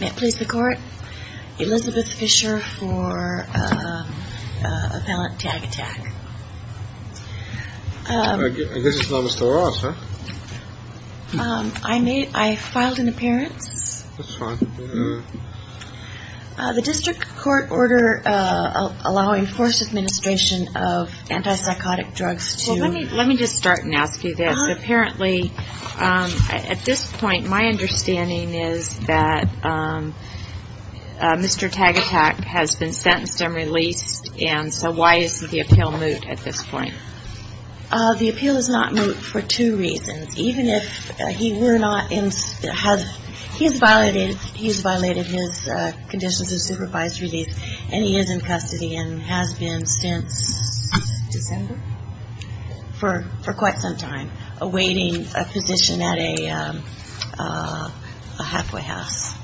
May it please the court. Elizabeth Fisher for appellant Tagatac. I guess it's not Mr. Ross, huh? I filed an appearance. That's fine. The district court order allowing forced administration of anti-psychotic drugs to let me just start and ask you this. Apparently at this point my understanding is that Mr. Tagatac has been sentenced and released. And so why is the appeal moot at this point? The appeal is not moot for two reasons. Even if he were not in has he's violated he's violated his conditions of supervised release and he is in custody and has been since December for quite some time awaiting a position at a halfway house.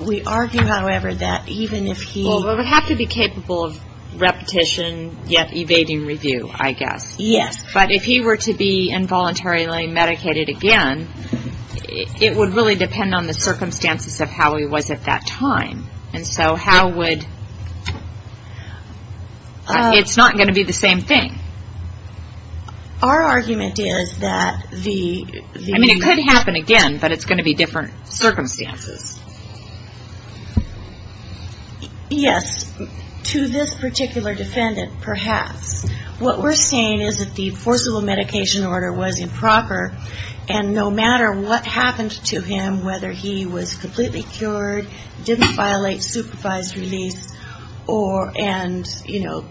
We argue, however, that even if he Well, we would have to be capable of repetition yet evading review, I guess. Yes. But if he were to be involuntarily medicated again it would really depend on the circumstances of how he was at that time. And so how would It's not going to be the same thing. Our argument is that the I mean it could happen again but it's going to be different circumstances. Yes. To this particular defendant, perhaps. What we're saying is that the forcible medication order was improper and no matter what happened to him, whether he was completely cured, didn't violate supervised release, or and, you know,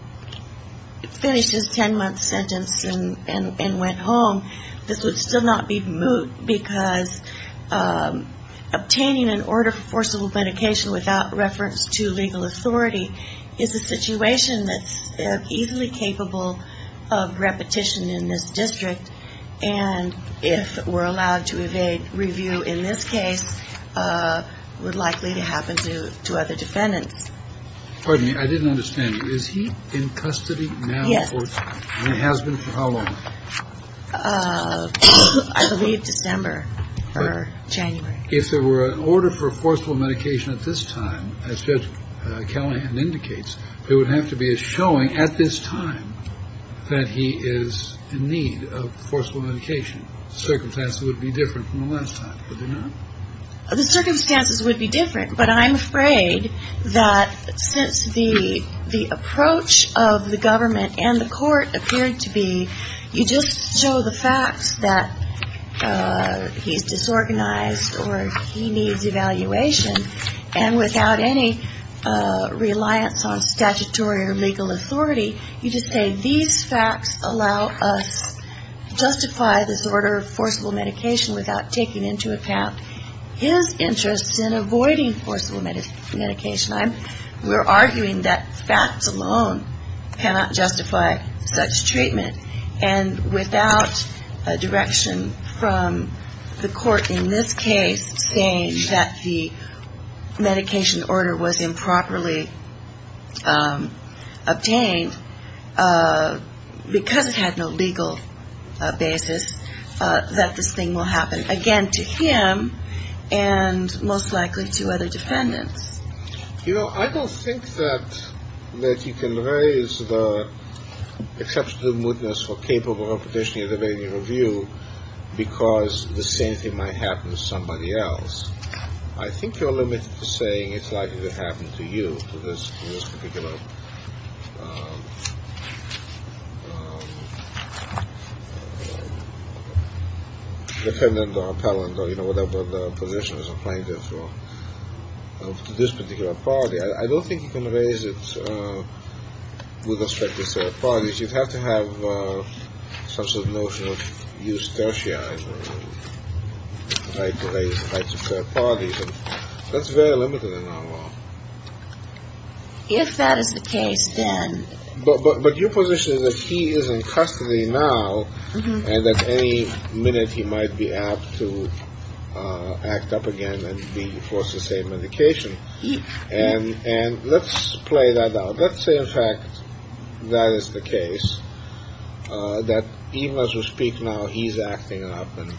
finished his 10 month sentence and went home, this would still not be moot because obtaining an order for forcible medication without reference to legal authority is a situation that's easily capable of repetition in this district. And if we're allowed to evade review in this case, would likely to happen to other defendants. Pardon me. I didn't understand. Is he in custody now? Yes. And it has been for how long? I believe December or January. If there were an order for forcible medication at this time, as Judge Callahan indicates, there would have to be a showing at this time that he is in need of forcible medication. Circumstances would be different from the last time, would they not? The circumstances would be different. But I'm afraid that since the approach of the government and the court appeared to be you just show the facts that he's disorganized or he needs evaluation and without any reliance on statutory or legal authority, you just say these facts allow us to justify this order of forcible medication without taking into account his interest in avoiding forcible medication. We're arguing that facts alone cannot justify such treatment. And without a direction from the court in this case saying that the medication order was improperly obtained, because it had no legal basis, that this thing will happen again to him and most likely to other defendants. You know, I don't think that you can raise the exception to the mootness for capable of petitioning and debating a review because the same thing might happen to somebody else. I think you're limited to saying it's likely to happen to you, to this particular defendant or appellant or whatever the position is applying to this particular party. I don't think you can raise it with respect to certain parties. You'd have to have some sort of notion of eustachianism or the right to raise rights of certain parties. That's very limited in our law. If that is the case, then. But your position is that he is in custody now and that any minute he might be apt to act up again and be forced to say medication. And let's play that out. Let's say, in fact, that is the case, that even as we speak now, he's acting up and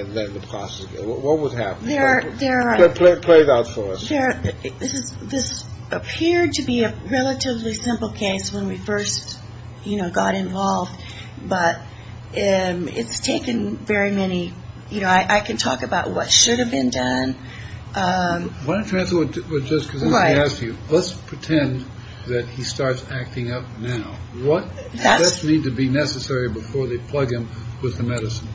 then the process. What would happen? There are. Play it out for us. This appeared to be a relatively simple case when we first got involved. But it's taken very many. I can talk about what should have been done. Why don't you answer with just because I ask you, let's pretend that he starts acting up now. What does need to be necessary before they plug him with the medicine?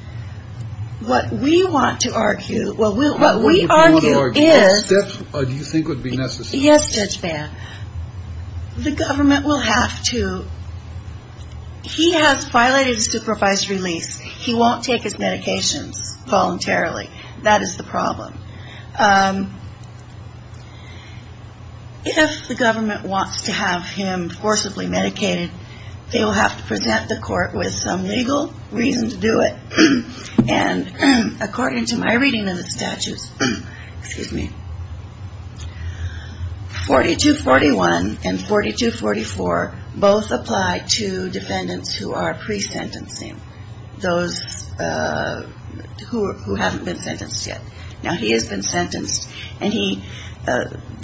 What we want to argue. Well, what we argue is, do you think would be necessary? Yes. The government will have to. He has violated his supervised release. He won't take his medications voluntarily. That is the problem. If the government wants to have him forcibly medicated, they will have to present the court with some legal reason to do it. And according to my reading of the statutes, 4241 and 4244 both apply to defendants who are pre-sentencing. Those who haven't been sentenced yet. Now, he has been sentenced. And the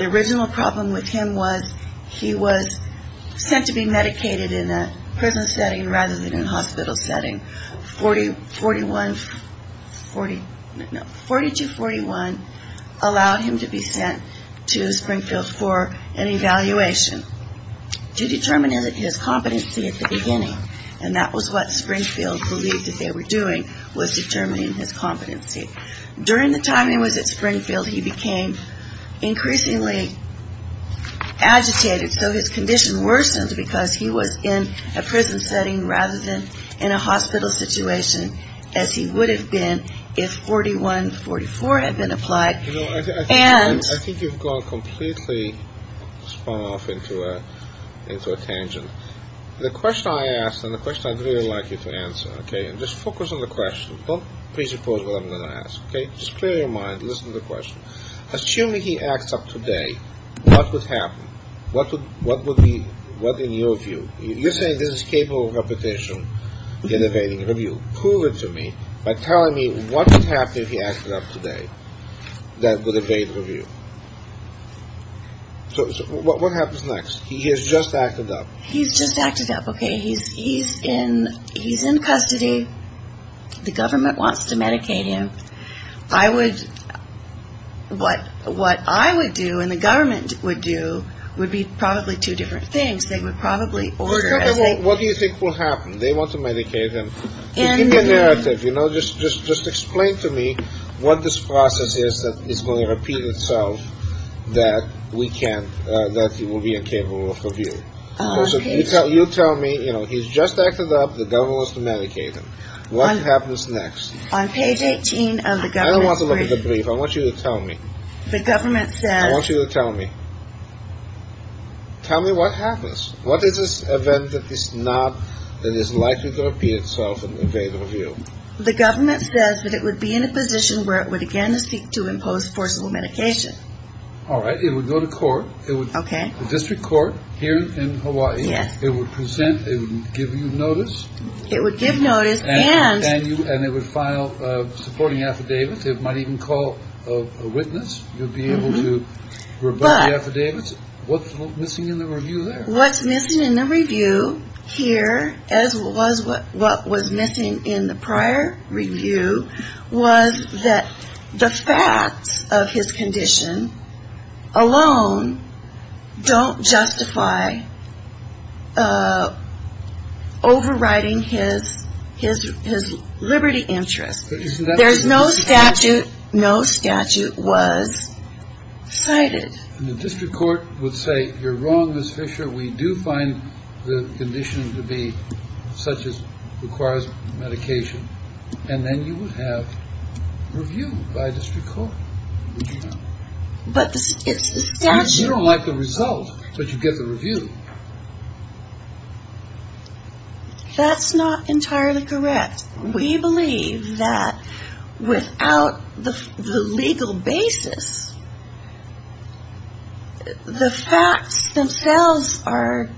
original problem with him was he was sent to be medicated in a prison setting rather than a hospital setting. 4241 allowed him to be sent to Springfield for an evaluation to determine his competency at the beginning. And that was what Springfield believed that they were doing, was determining his competency. During the time he was at Springfield, he became increasingly agitated. So his condition worsened because he was in a prison setting rather than in a hospital situation as he would have been if 4144 had been applied. And I think you've gone completely spun off into a tangent. The question I asked and the question I'd really like you to answer. Okay. And just focus on the question. Don't presuppose what I'm going to ask. Okay. Just clear your mind. Listen to the question. Assuming he acts up today, what would happen? What would be – what in your view? You're saying this is capable of repetition in evading review. Prove it to me by telling me what would happen if he acted up today that would evade review. So what happens next? He has just acted up. He's just acted up. Okay. He's in custody. The government wants to medicate him. I would – what I would do and the government would do would be probably two different things. They would probably order – What do you think will happen? They want to medicate him. In the narrative, you know, just explain to me what this process is that is going to repeat itself that we can't – that he will be incapable of review. So you tell me, you know, he's just acted up. The government wants to medicate him. What happens next? On page 18 of the government's – I don't want to look at the brief. I want you to tell me. The government says – I want you to tell me. Tell me what happens. What is this event that is not – that is likely to repeat itself and evade review? The government says that it would be in a position where it would again seek to impose forcible medication. All right. It would go to court. It would – Okay. The district court here in Hawaii. Yes. It would present. It would give you notice. It would give notice and – And it would file a supporting affidavit. It might even call a witness. You'd be able to revoke the affidavit. But – What's missing in the review there? What's missing in the review here, as was what was missing in the prior review, was that the facts of his condition alone don't justify overriding his liberty interest. There's no statute – no statute was cited. The district court would say, you're wrong, Ms. Fisher. We do find the condition to be such as requires medication. And then you would have review by district court. But the statute – You don't like the result, but you get the review. That's not entirely correct. We believe that without the legal basis, the facts themselves are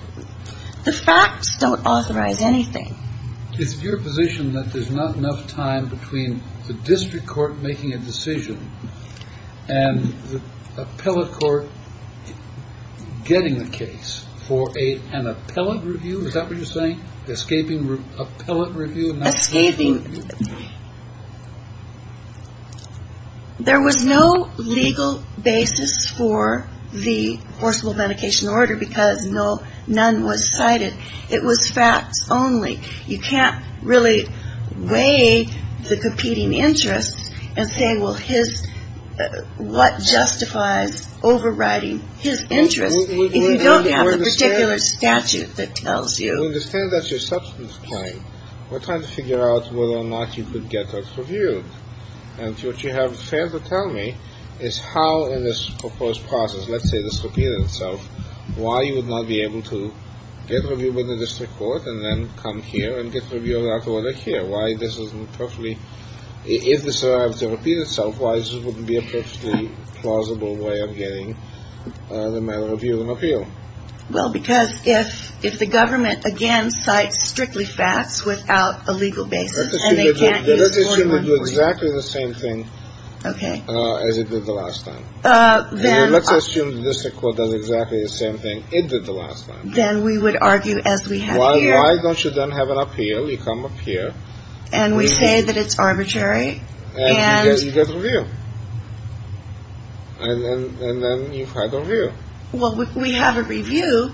– the facts don't authorize anything. It's your position that there's not enough time between the district court making a decision and the appellate court getting the case for an appellate review? Is that what you're saying? Escaping appellate review? Escaping – There was no legal basis for the forcible medication order because no – none was cited. It was facts only. You can't really weigh the competing interests and say, well, his – what justifies overriding his interest if you don't have the particular statute that tells you. We understand that's your substance claim. We're trying to figure out whether or not you could get us reviewed. And what you have fair to tell me is how in this proposed process, let's say this repeated itself, why you would not be able to get review by the district court and then come here and get review of that order here? Why this isn't perfectly – if this were to repeat itself, why this wouldn't be a perfectly plausible way of getting the matter reviewed in appeal? Well, because if – if the government, again, cites strictly facts without a legal basis and they can't use – Let's assume it would do exactly the same thing as it did the last time. Then – Let's assume the district court does exactly the same thing it did the last time. Then we would argue as we have here – Why don't you then have an appeal? You come up here. And we say that it's arbitrary and – And you get a review. And then you've had a review. Well, we have a review,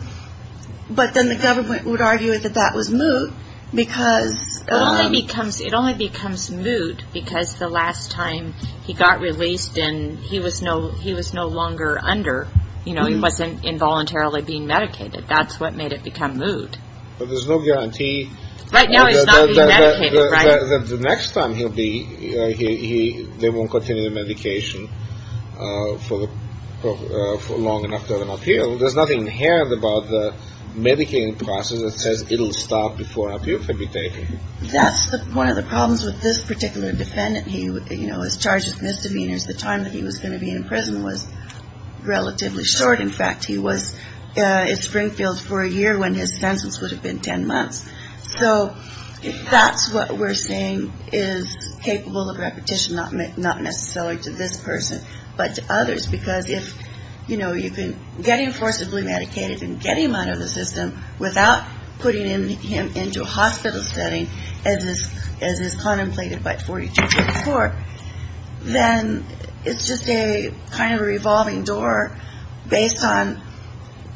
but then the government would argue that that was moot because – It only becomes – it only becomes moot because the last time he got released and he was no – he was no longer under, you know, he wasn't involuntarily being medicated. That's what made it become moot. But there's no guarantee – Right now he's not being medicated, right? The next time he'll be – they won't continue the medication for the – for long enough to have an appeal. There's nothing inherent about the medicating process that says it'll stop before an appeal can be taken. That's one of the problems with this particular defendant. He, you know, was charged with misdemeanors. The time that he was going to be in prison was relatively short. In fact, he was in Springfield for a year when his sentence would have been 10 months. So that's what we're saying is capable of repetition, not necessarily to this person, but to others. Because if, you know, you can – getting forcibly medicated and getting him out of the system without putting him into a hospital setting, as is contemplated by 42 to the fourth, then it's just a kind of a revolving door based on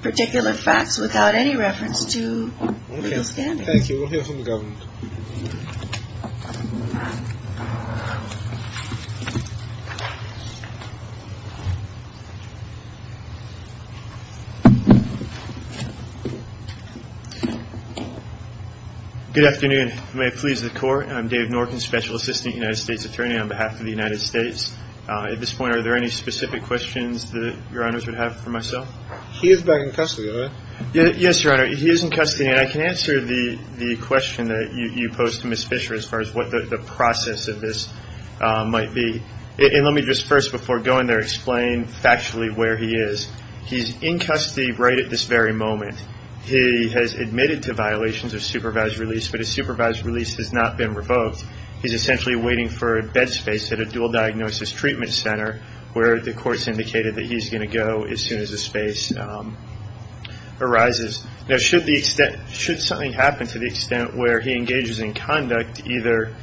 particular facts without any reference to real standing. Thank you. We'll hear from the government. Good afternoon. May it please the Court. I'm Dave Norton, Special Assistant United States Attorney on behalf of the United States. At this point, are there any specific questions that Your Honors would have for myself? He is back in custody, right? Yes, Your Honor. He is in custody, and I can answer the question that you posed to Ms. Fisher as far as what the process of this might be. And let me just first, before going there, explain factually where he is. He's in custody right at this very moment. He has admitted to violations of supervised release, but his supervised release has not been revoked. He's essentially waiting for bed space at a dual diagnosis treatment center where the court's indicated that he's going to go as soon as the space arises. Now, should the extent, should something happen to the extent where he engages in conduct either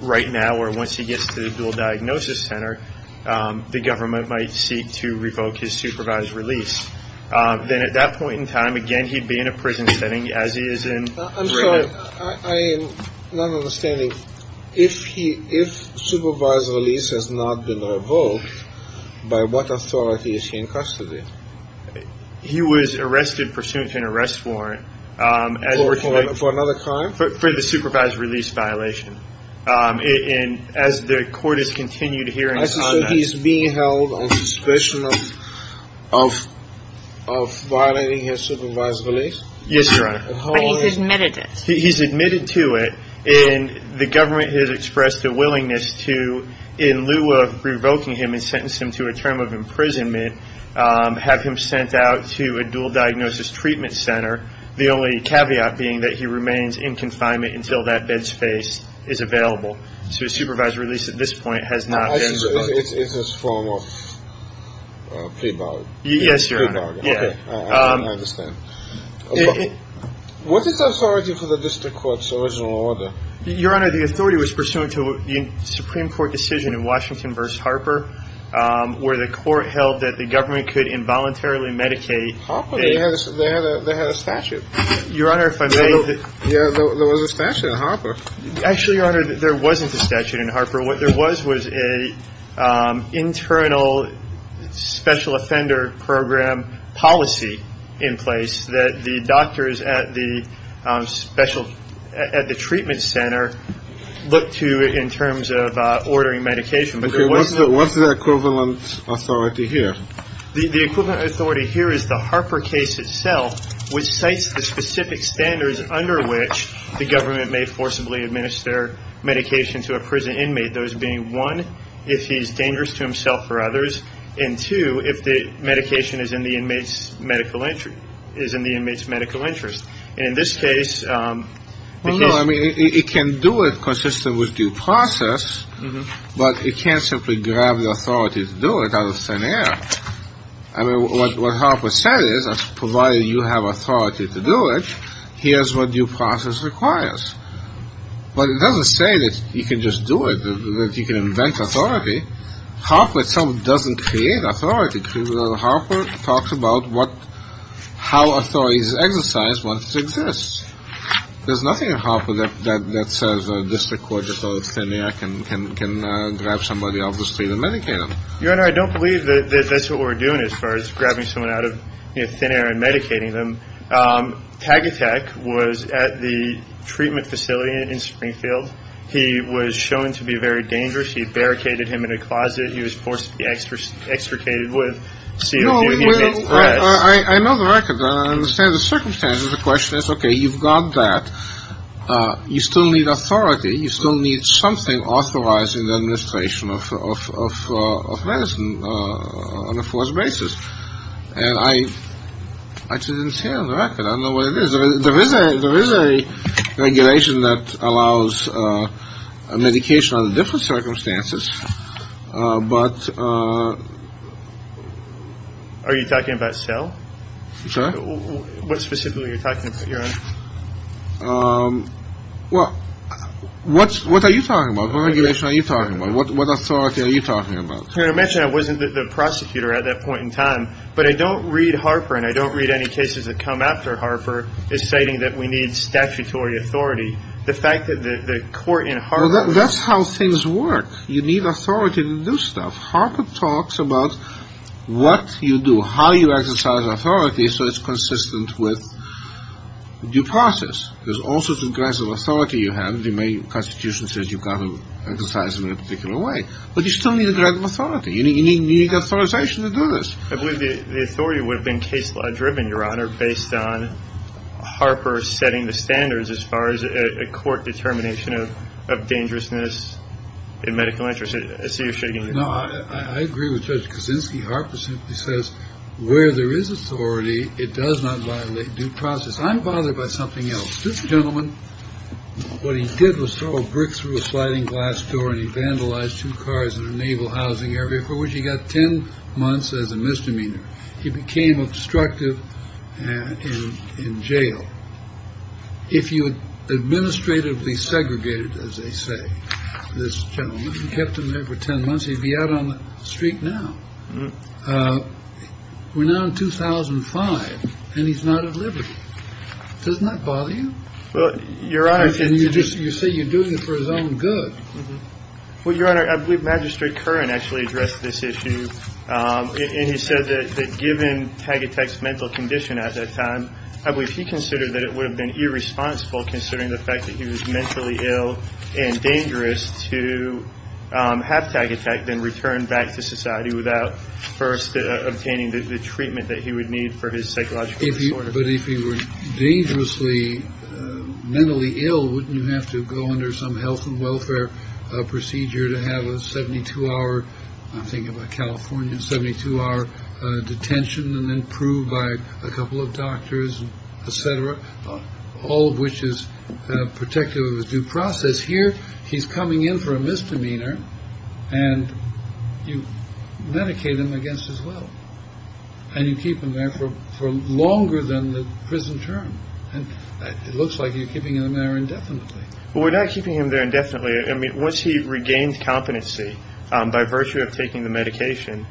right now or once he gets to the dual diagnosis center, the government might seek to revoke his supervised release. Then at that point in time, again, he'd be in a prison setting as he is in. I'm sorry, I'm not understanding. If he, if supervised release has not been revoked, by what authority is he in custody? He was arrested pursuant to an arrest warrant. For another crime? For the supervised release violation. And as the court has continued hearings on that. So he's being held on suspicion of violating his supervised release? Yes, Your Honor. But he's admitted it. He's admitted to it, and the government has expressed a willingness to, in lieu of revoking him and sentencing him to a term of imprisonment, have him sent out to a dual diagnosis treatment center. The only caveat being that he remains in confinement until that bed space is available. So his supervised release at this point has not been revoked. It's a form of plea bargain. Yes, Your Honor. Okay, I understand. What is the authority for the district court's original order? Your Honor, the authority was pursuant to the Supreme Court decision in Washington v. Harper, where the court held that the government could involuntarily medicate. They had a statute. Your Honor, if I may. There was a statute in Harper. Actually, Your Honor, there wasn't a statute in Harper. What there was was an internal special offender program policy in place that the doctors at the treatment center looked to in terms of ordering medication. Okay. What's the equivalent authority here? The equivalent authority here is the Harper case itself, which cites the specific standards under which the government may forcibly administer medication to a prison inmate, those being, one, if he's dangerous to himself or others, and, two, if the medication is in the inmate's medical interest. And in this case, the case… Well, no, I mean, it can do it consistent with due process, but it can't simply grab the authority to do it out of thin air. I mean, what Harper said is, provided you have authority to do it, here's what due process requires. But it doesn't say that you can just do it, that you can invent authority. Harper itself doesn't create authority. Harper talks about how authority is exercised once it exists. There's nothing in Harper that says a district court, just out of thin air, can grab somebody off the street and medicate them. Your Honor, I don't believe that that's what we're doing as far as grabbing someone out of thin air and medicating them. Tagatek was at the treatment facility in Springfield. He was shown to be very dangerous. He barricaded him in a closet. He was forcibly extricated with CO2. I know the record. I understand the circumstances. The question is, okay, you've got that. You still need authority. You still need something authorizing the administration of medicine on a forced basis. And I just didn't see it on the record. I don't know what it is. There is a regulation that allows medication under different circumstances, but... Are you talking about cell? What specifically are you talking about, Your Honor? Well, what are you talking about? What regulation are you talking about? What authority are you talking about? Your Honor, I mentioned I wasn't the prosecutor at that point in time. But I don't read Harper, and I don't read any cases that come after Harper, citing that we need statutory authority. The fact that the court in Harper... Well, that's how things work. You need authority to do stuff. Harper talks about what you do, how you exercise authority, so it's consistent with due process. There's all sorts of grants of authority you have. The Constitution says you've got to exercise them in a particular way. But you still need a grant of authority. You need authorization to do this. I believe the authority would have been case-law driven, Your Honor, based on Harper setting the standards as far as a court determination of dangerousness in medical interest. I see you're shaking your head. No, I agree with Judge Kuczynski. Harper simply says where there is authority, it does not violate due process. I'm bothered by something else. This gentleman, what he did was throw a brick through a sliding glass door and he vandalized two cars in a naval housing area for which he got 10 months as a misdemeanor. He became obstructive in jail. If you had administratively segregated, as they say, this gentleman, he kept him there for 10 months. He'd be out on the street now. We're now in 2005 and he's not at liberty. Doesn't that bother you? Well, Your Honor. And you just you say you're doing it for his own good. Well, Your Honor, I believe Magistrate Curran actually addressed this issue. And he said that given Taggart's mental condition at that time, I believe he considered that it would have been irresponsible, considering the fact that he was mentally ill and dangerous to have tag attack, then return back to society without first obtaining the treatment that he would need for his psychological. But if he were dangerously mentally ill, wouldn't you have to go under some health and welfare procedure to have a 72 hour? I'm thinking about California, 72 hour detention and then proved by a couple of doctors, et cetera. All of which is protective of his due process here. He's coming in for a misdemeanor and you medicate him against as well. And you keep him there for longer than the prison term. And it looks like you're keeping him there indefinitely. We're not keeping him there indefinitely. I mean, once he regained competency by virtue of taking the medication,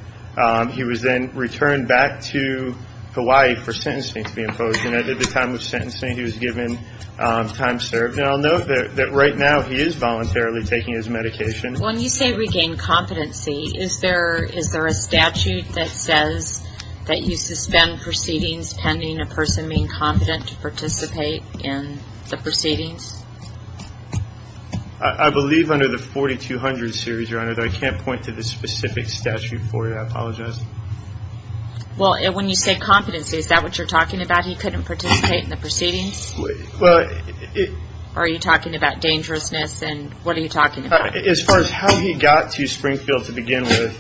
he was then returned back to Hawaii for sentencing to be imposed. And at the time of sentencing, he was given time served. And I'll note that right now he is voluntarily taking his medication. When you say regain competency, is there a statute that says that you suspend proceedings pending a person being competent to participate in the proceedings? I believe under the 4200 series, Your Honor, though I can't point to the specific statute for you. I apologize. Well, when you say competency, is that what you're talking about? He couldn't participate in the proceedings? Are you talking about dangerousness and what are you talking about? As far as how he got to Springfield to begin with,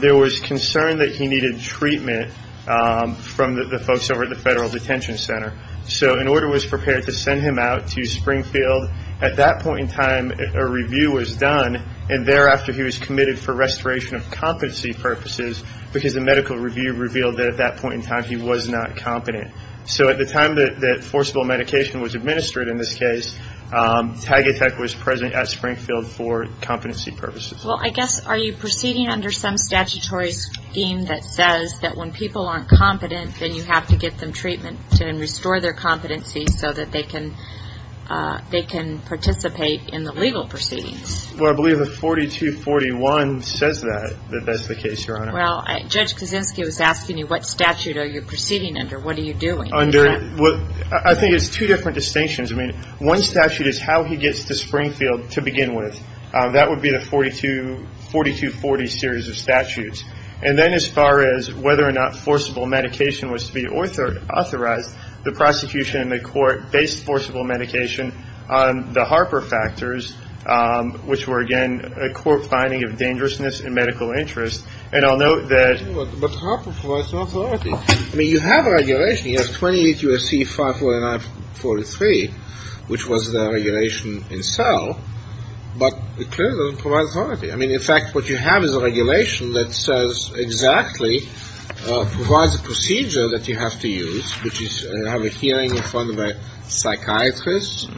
there was concern that he needed treatment from the folks over at the Federal Detention Center. So an order was prepared to send him out to Springfield. At that point in time, a review was done. And thereafter, he was committed for restoration of competency purposes because the medical review revealed that at that point in time he was not competent. So at the time that forcible medication was administered in this case, Tagitech was present at Springfield for competency purposes. Well, I guess are you proceeding under some statutory scheme that says that when people aren't competent, then you have to get them treatment and restore their competency so that they can participate in the legal proceedings? Well, I believe the 4241 says that, that that's the case, Your Honor. Well, Judge Kaczynski was asking you what statute are you proceeding under. What are you doing? I think it's two different distinctions. I mean, one statute is how he gets to Springfield to begin with. That would be the 4240 series of statutes. And then as far as whether or not forcible medication was to be authorized, the prosecution and the court based forcible medication on the Harper factors, which were, again, a court finding of dangerousness and medical interest. And I'll note that. But Harper provides no authority. I mean, you have regulation. You have 28 U.S.C. 54943, which was the regulation itself. But it clearly doesn't provide authority. I mean, in fact, what you have is a regulation that says exactly, provides a procedure that you have to use, which is you have a hearing in front of a psychiatrist,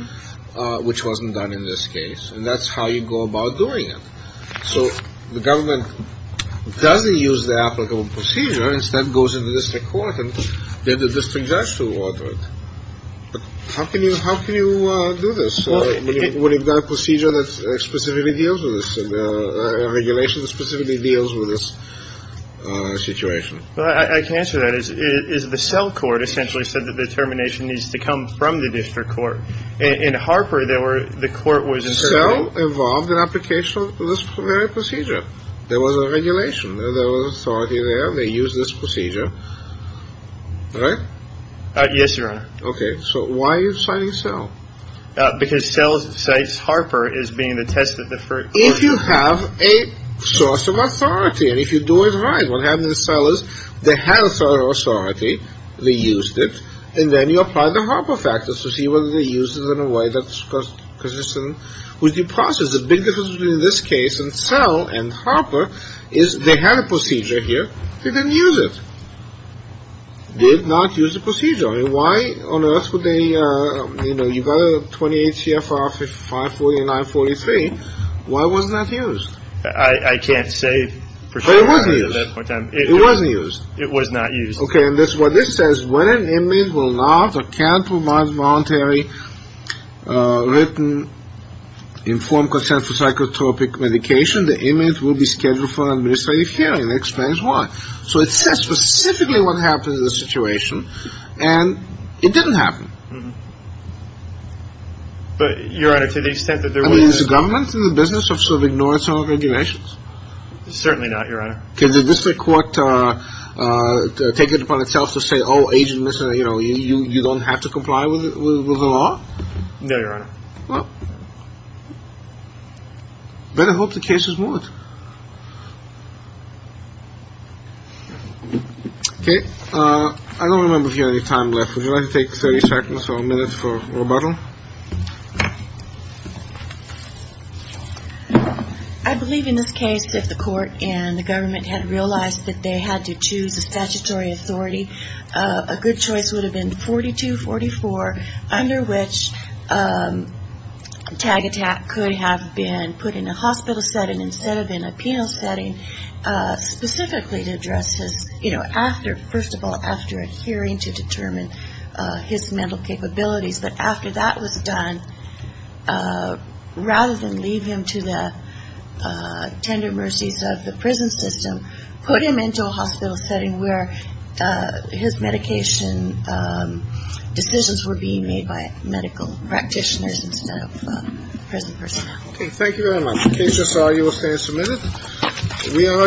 which wasn't done in this case. And that's how you go about doing it. So the government doesn't use the applicable procedure, instead goes into the district court and then the district judge to order it. But how can you do this when you've got a procedure that specifically deals with this, a regulation that specifically deals with this situation? I can answer that. Is the cell court essentially said that the termination needs to come from the district court in Harper? There were the court was involved in application of this very procedure. There was a regulation. There was authority there. They use this procedure. Right. Yes, Your Honor. OK. So why are you signing? Because cell cites Harper as being the test of the first. If you have a source of authority and if you do it right, what happened to the cell is they had authority, they used it, and then you apply the Harper factors to see whether they used it in a way that's consistent with the process. The big difference between this case and cell and Harper is they had a procedure here. They didn't use it. They did not use the procedure. And why on earth would they, you know, you've got a 28 CFR 549.43. Why wasn't that used? I can't say for sure. But it wasn't used. It wasn't used. It was not used. OK. And this is what this says. When an inmate will not account to a voluntary written informed consent for psychotropic medication, the inmate will be scheduled for an administrative hearing. It explains why. So it says specifically what happened to the situation. And it didn't happen. But, Your Honor, to the extent that there was a... I mean, is the government in the business of sort of ignoring some of the regulations? Certainly not, Your Honor. Can the district court take it upon itself to say, oh, agent, you know, you don't have to comply with the law? No, Your Honor. Well, better hope the case is moved. OK. I don't remember if you have any time left. Would you like to take 30 seconds or a minute for rebuttal? I believe in this case, if the court and the government had realized that they had to choose a statutory authority, a good choice would have been 4244, under which a tag attack could have been put in a hospital setting instead of in a penal setting specifically to address his, you know, after... First of all, after a hearing to determine his mental capabilities. But after that was done, rather than leave him to the tender mercies of the prison system, put him into a hospital setting where his medication decisions were being made by medical practitioners instead of prison personnel. OK. Thank you very much. The case is argued. We'll stand for a minute. We are adjourned. All rise.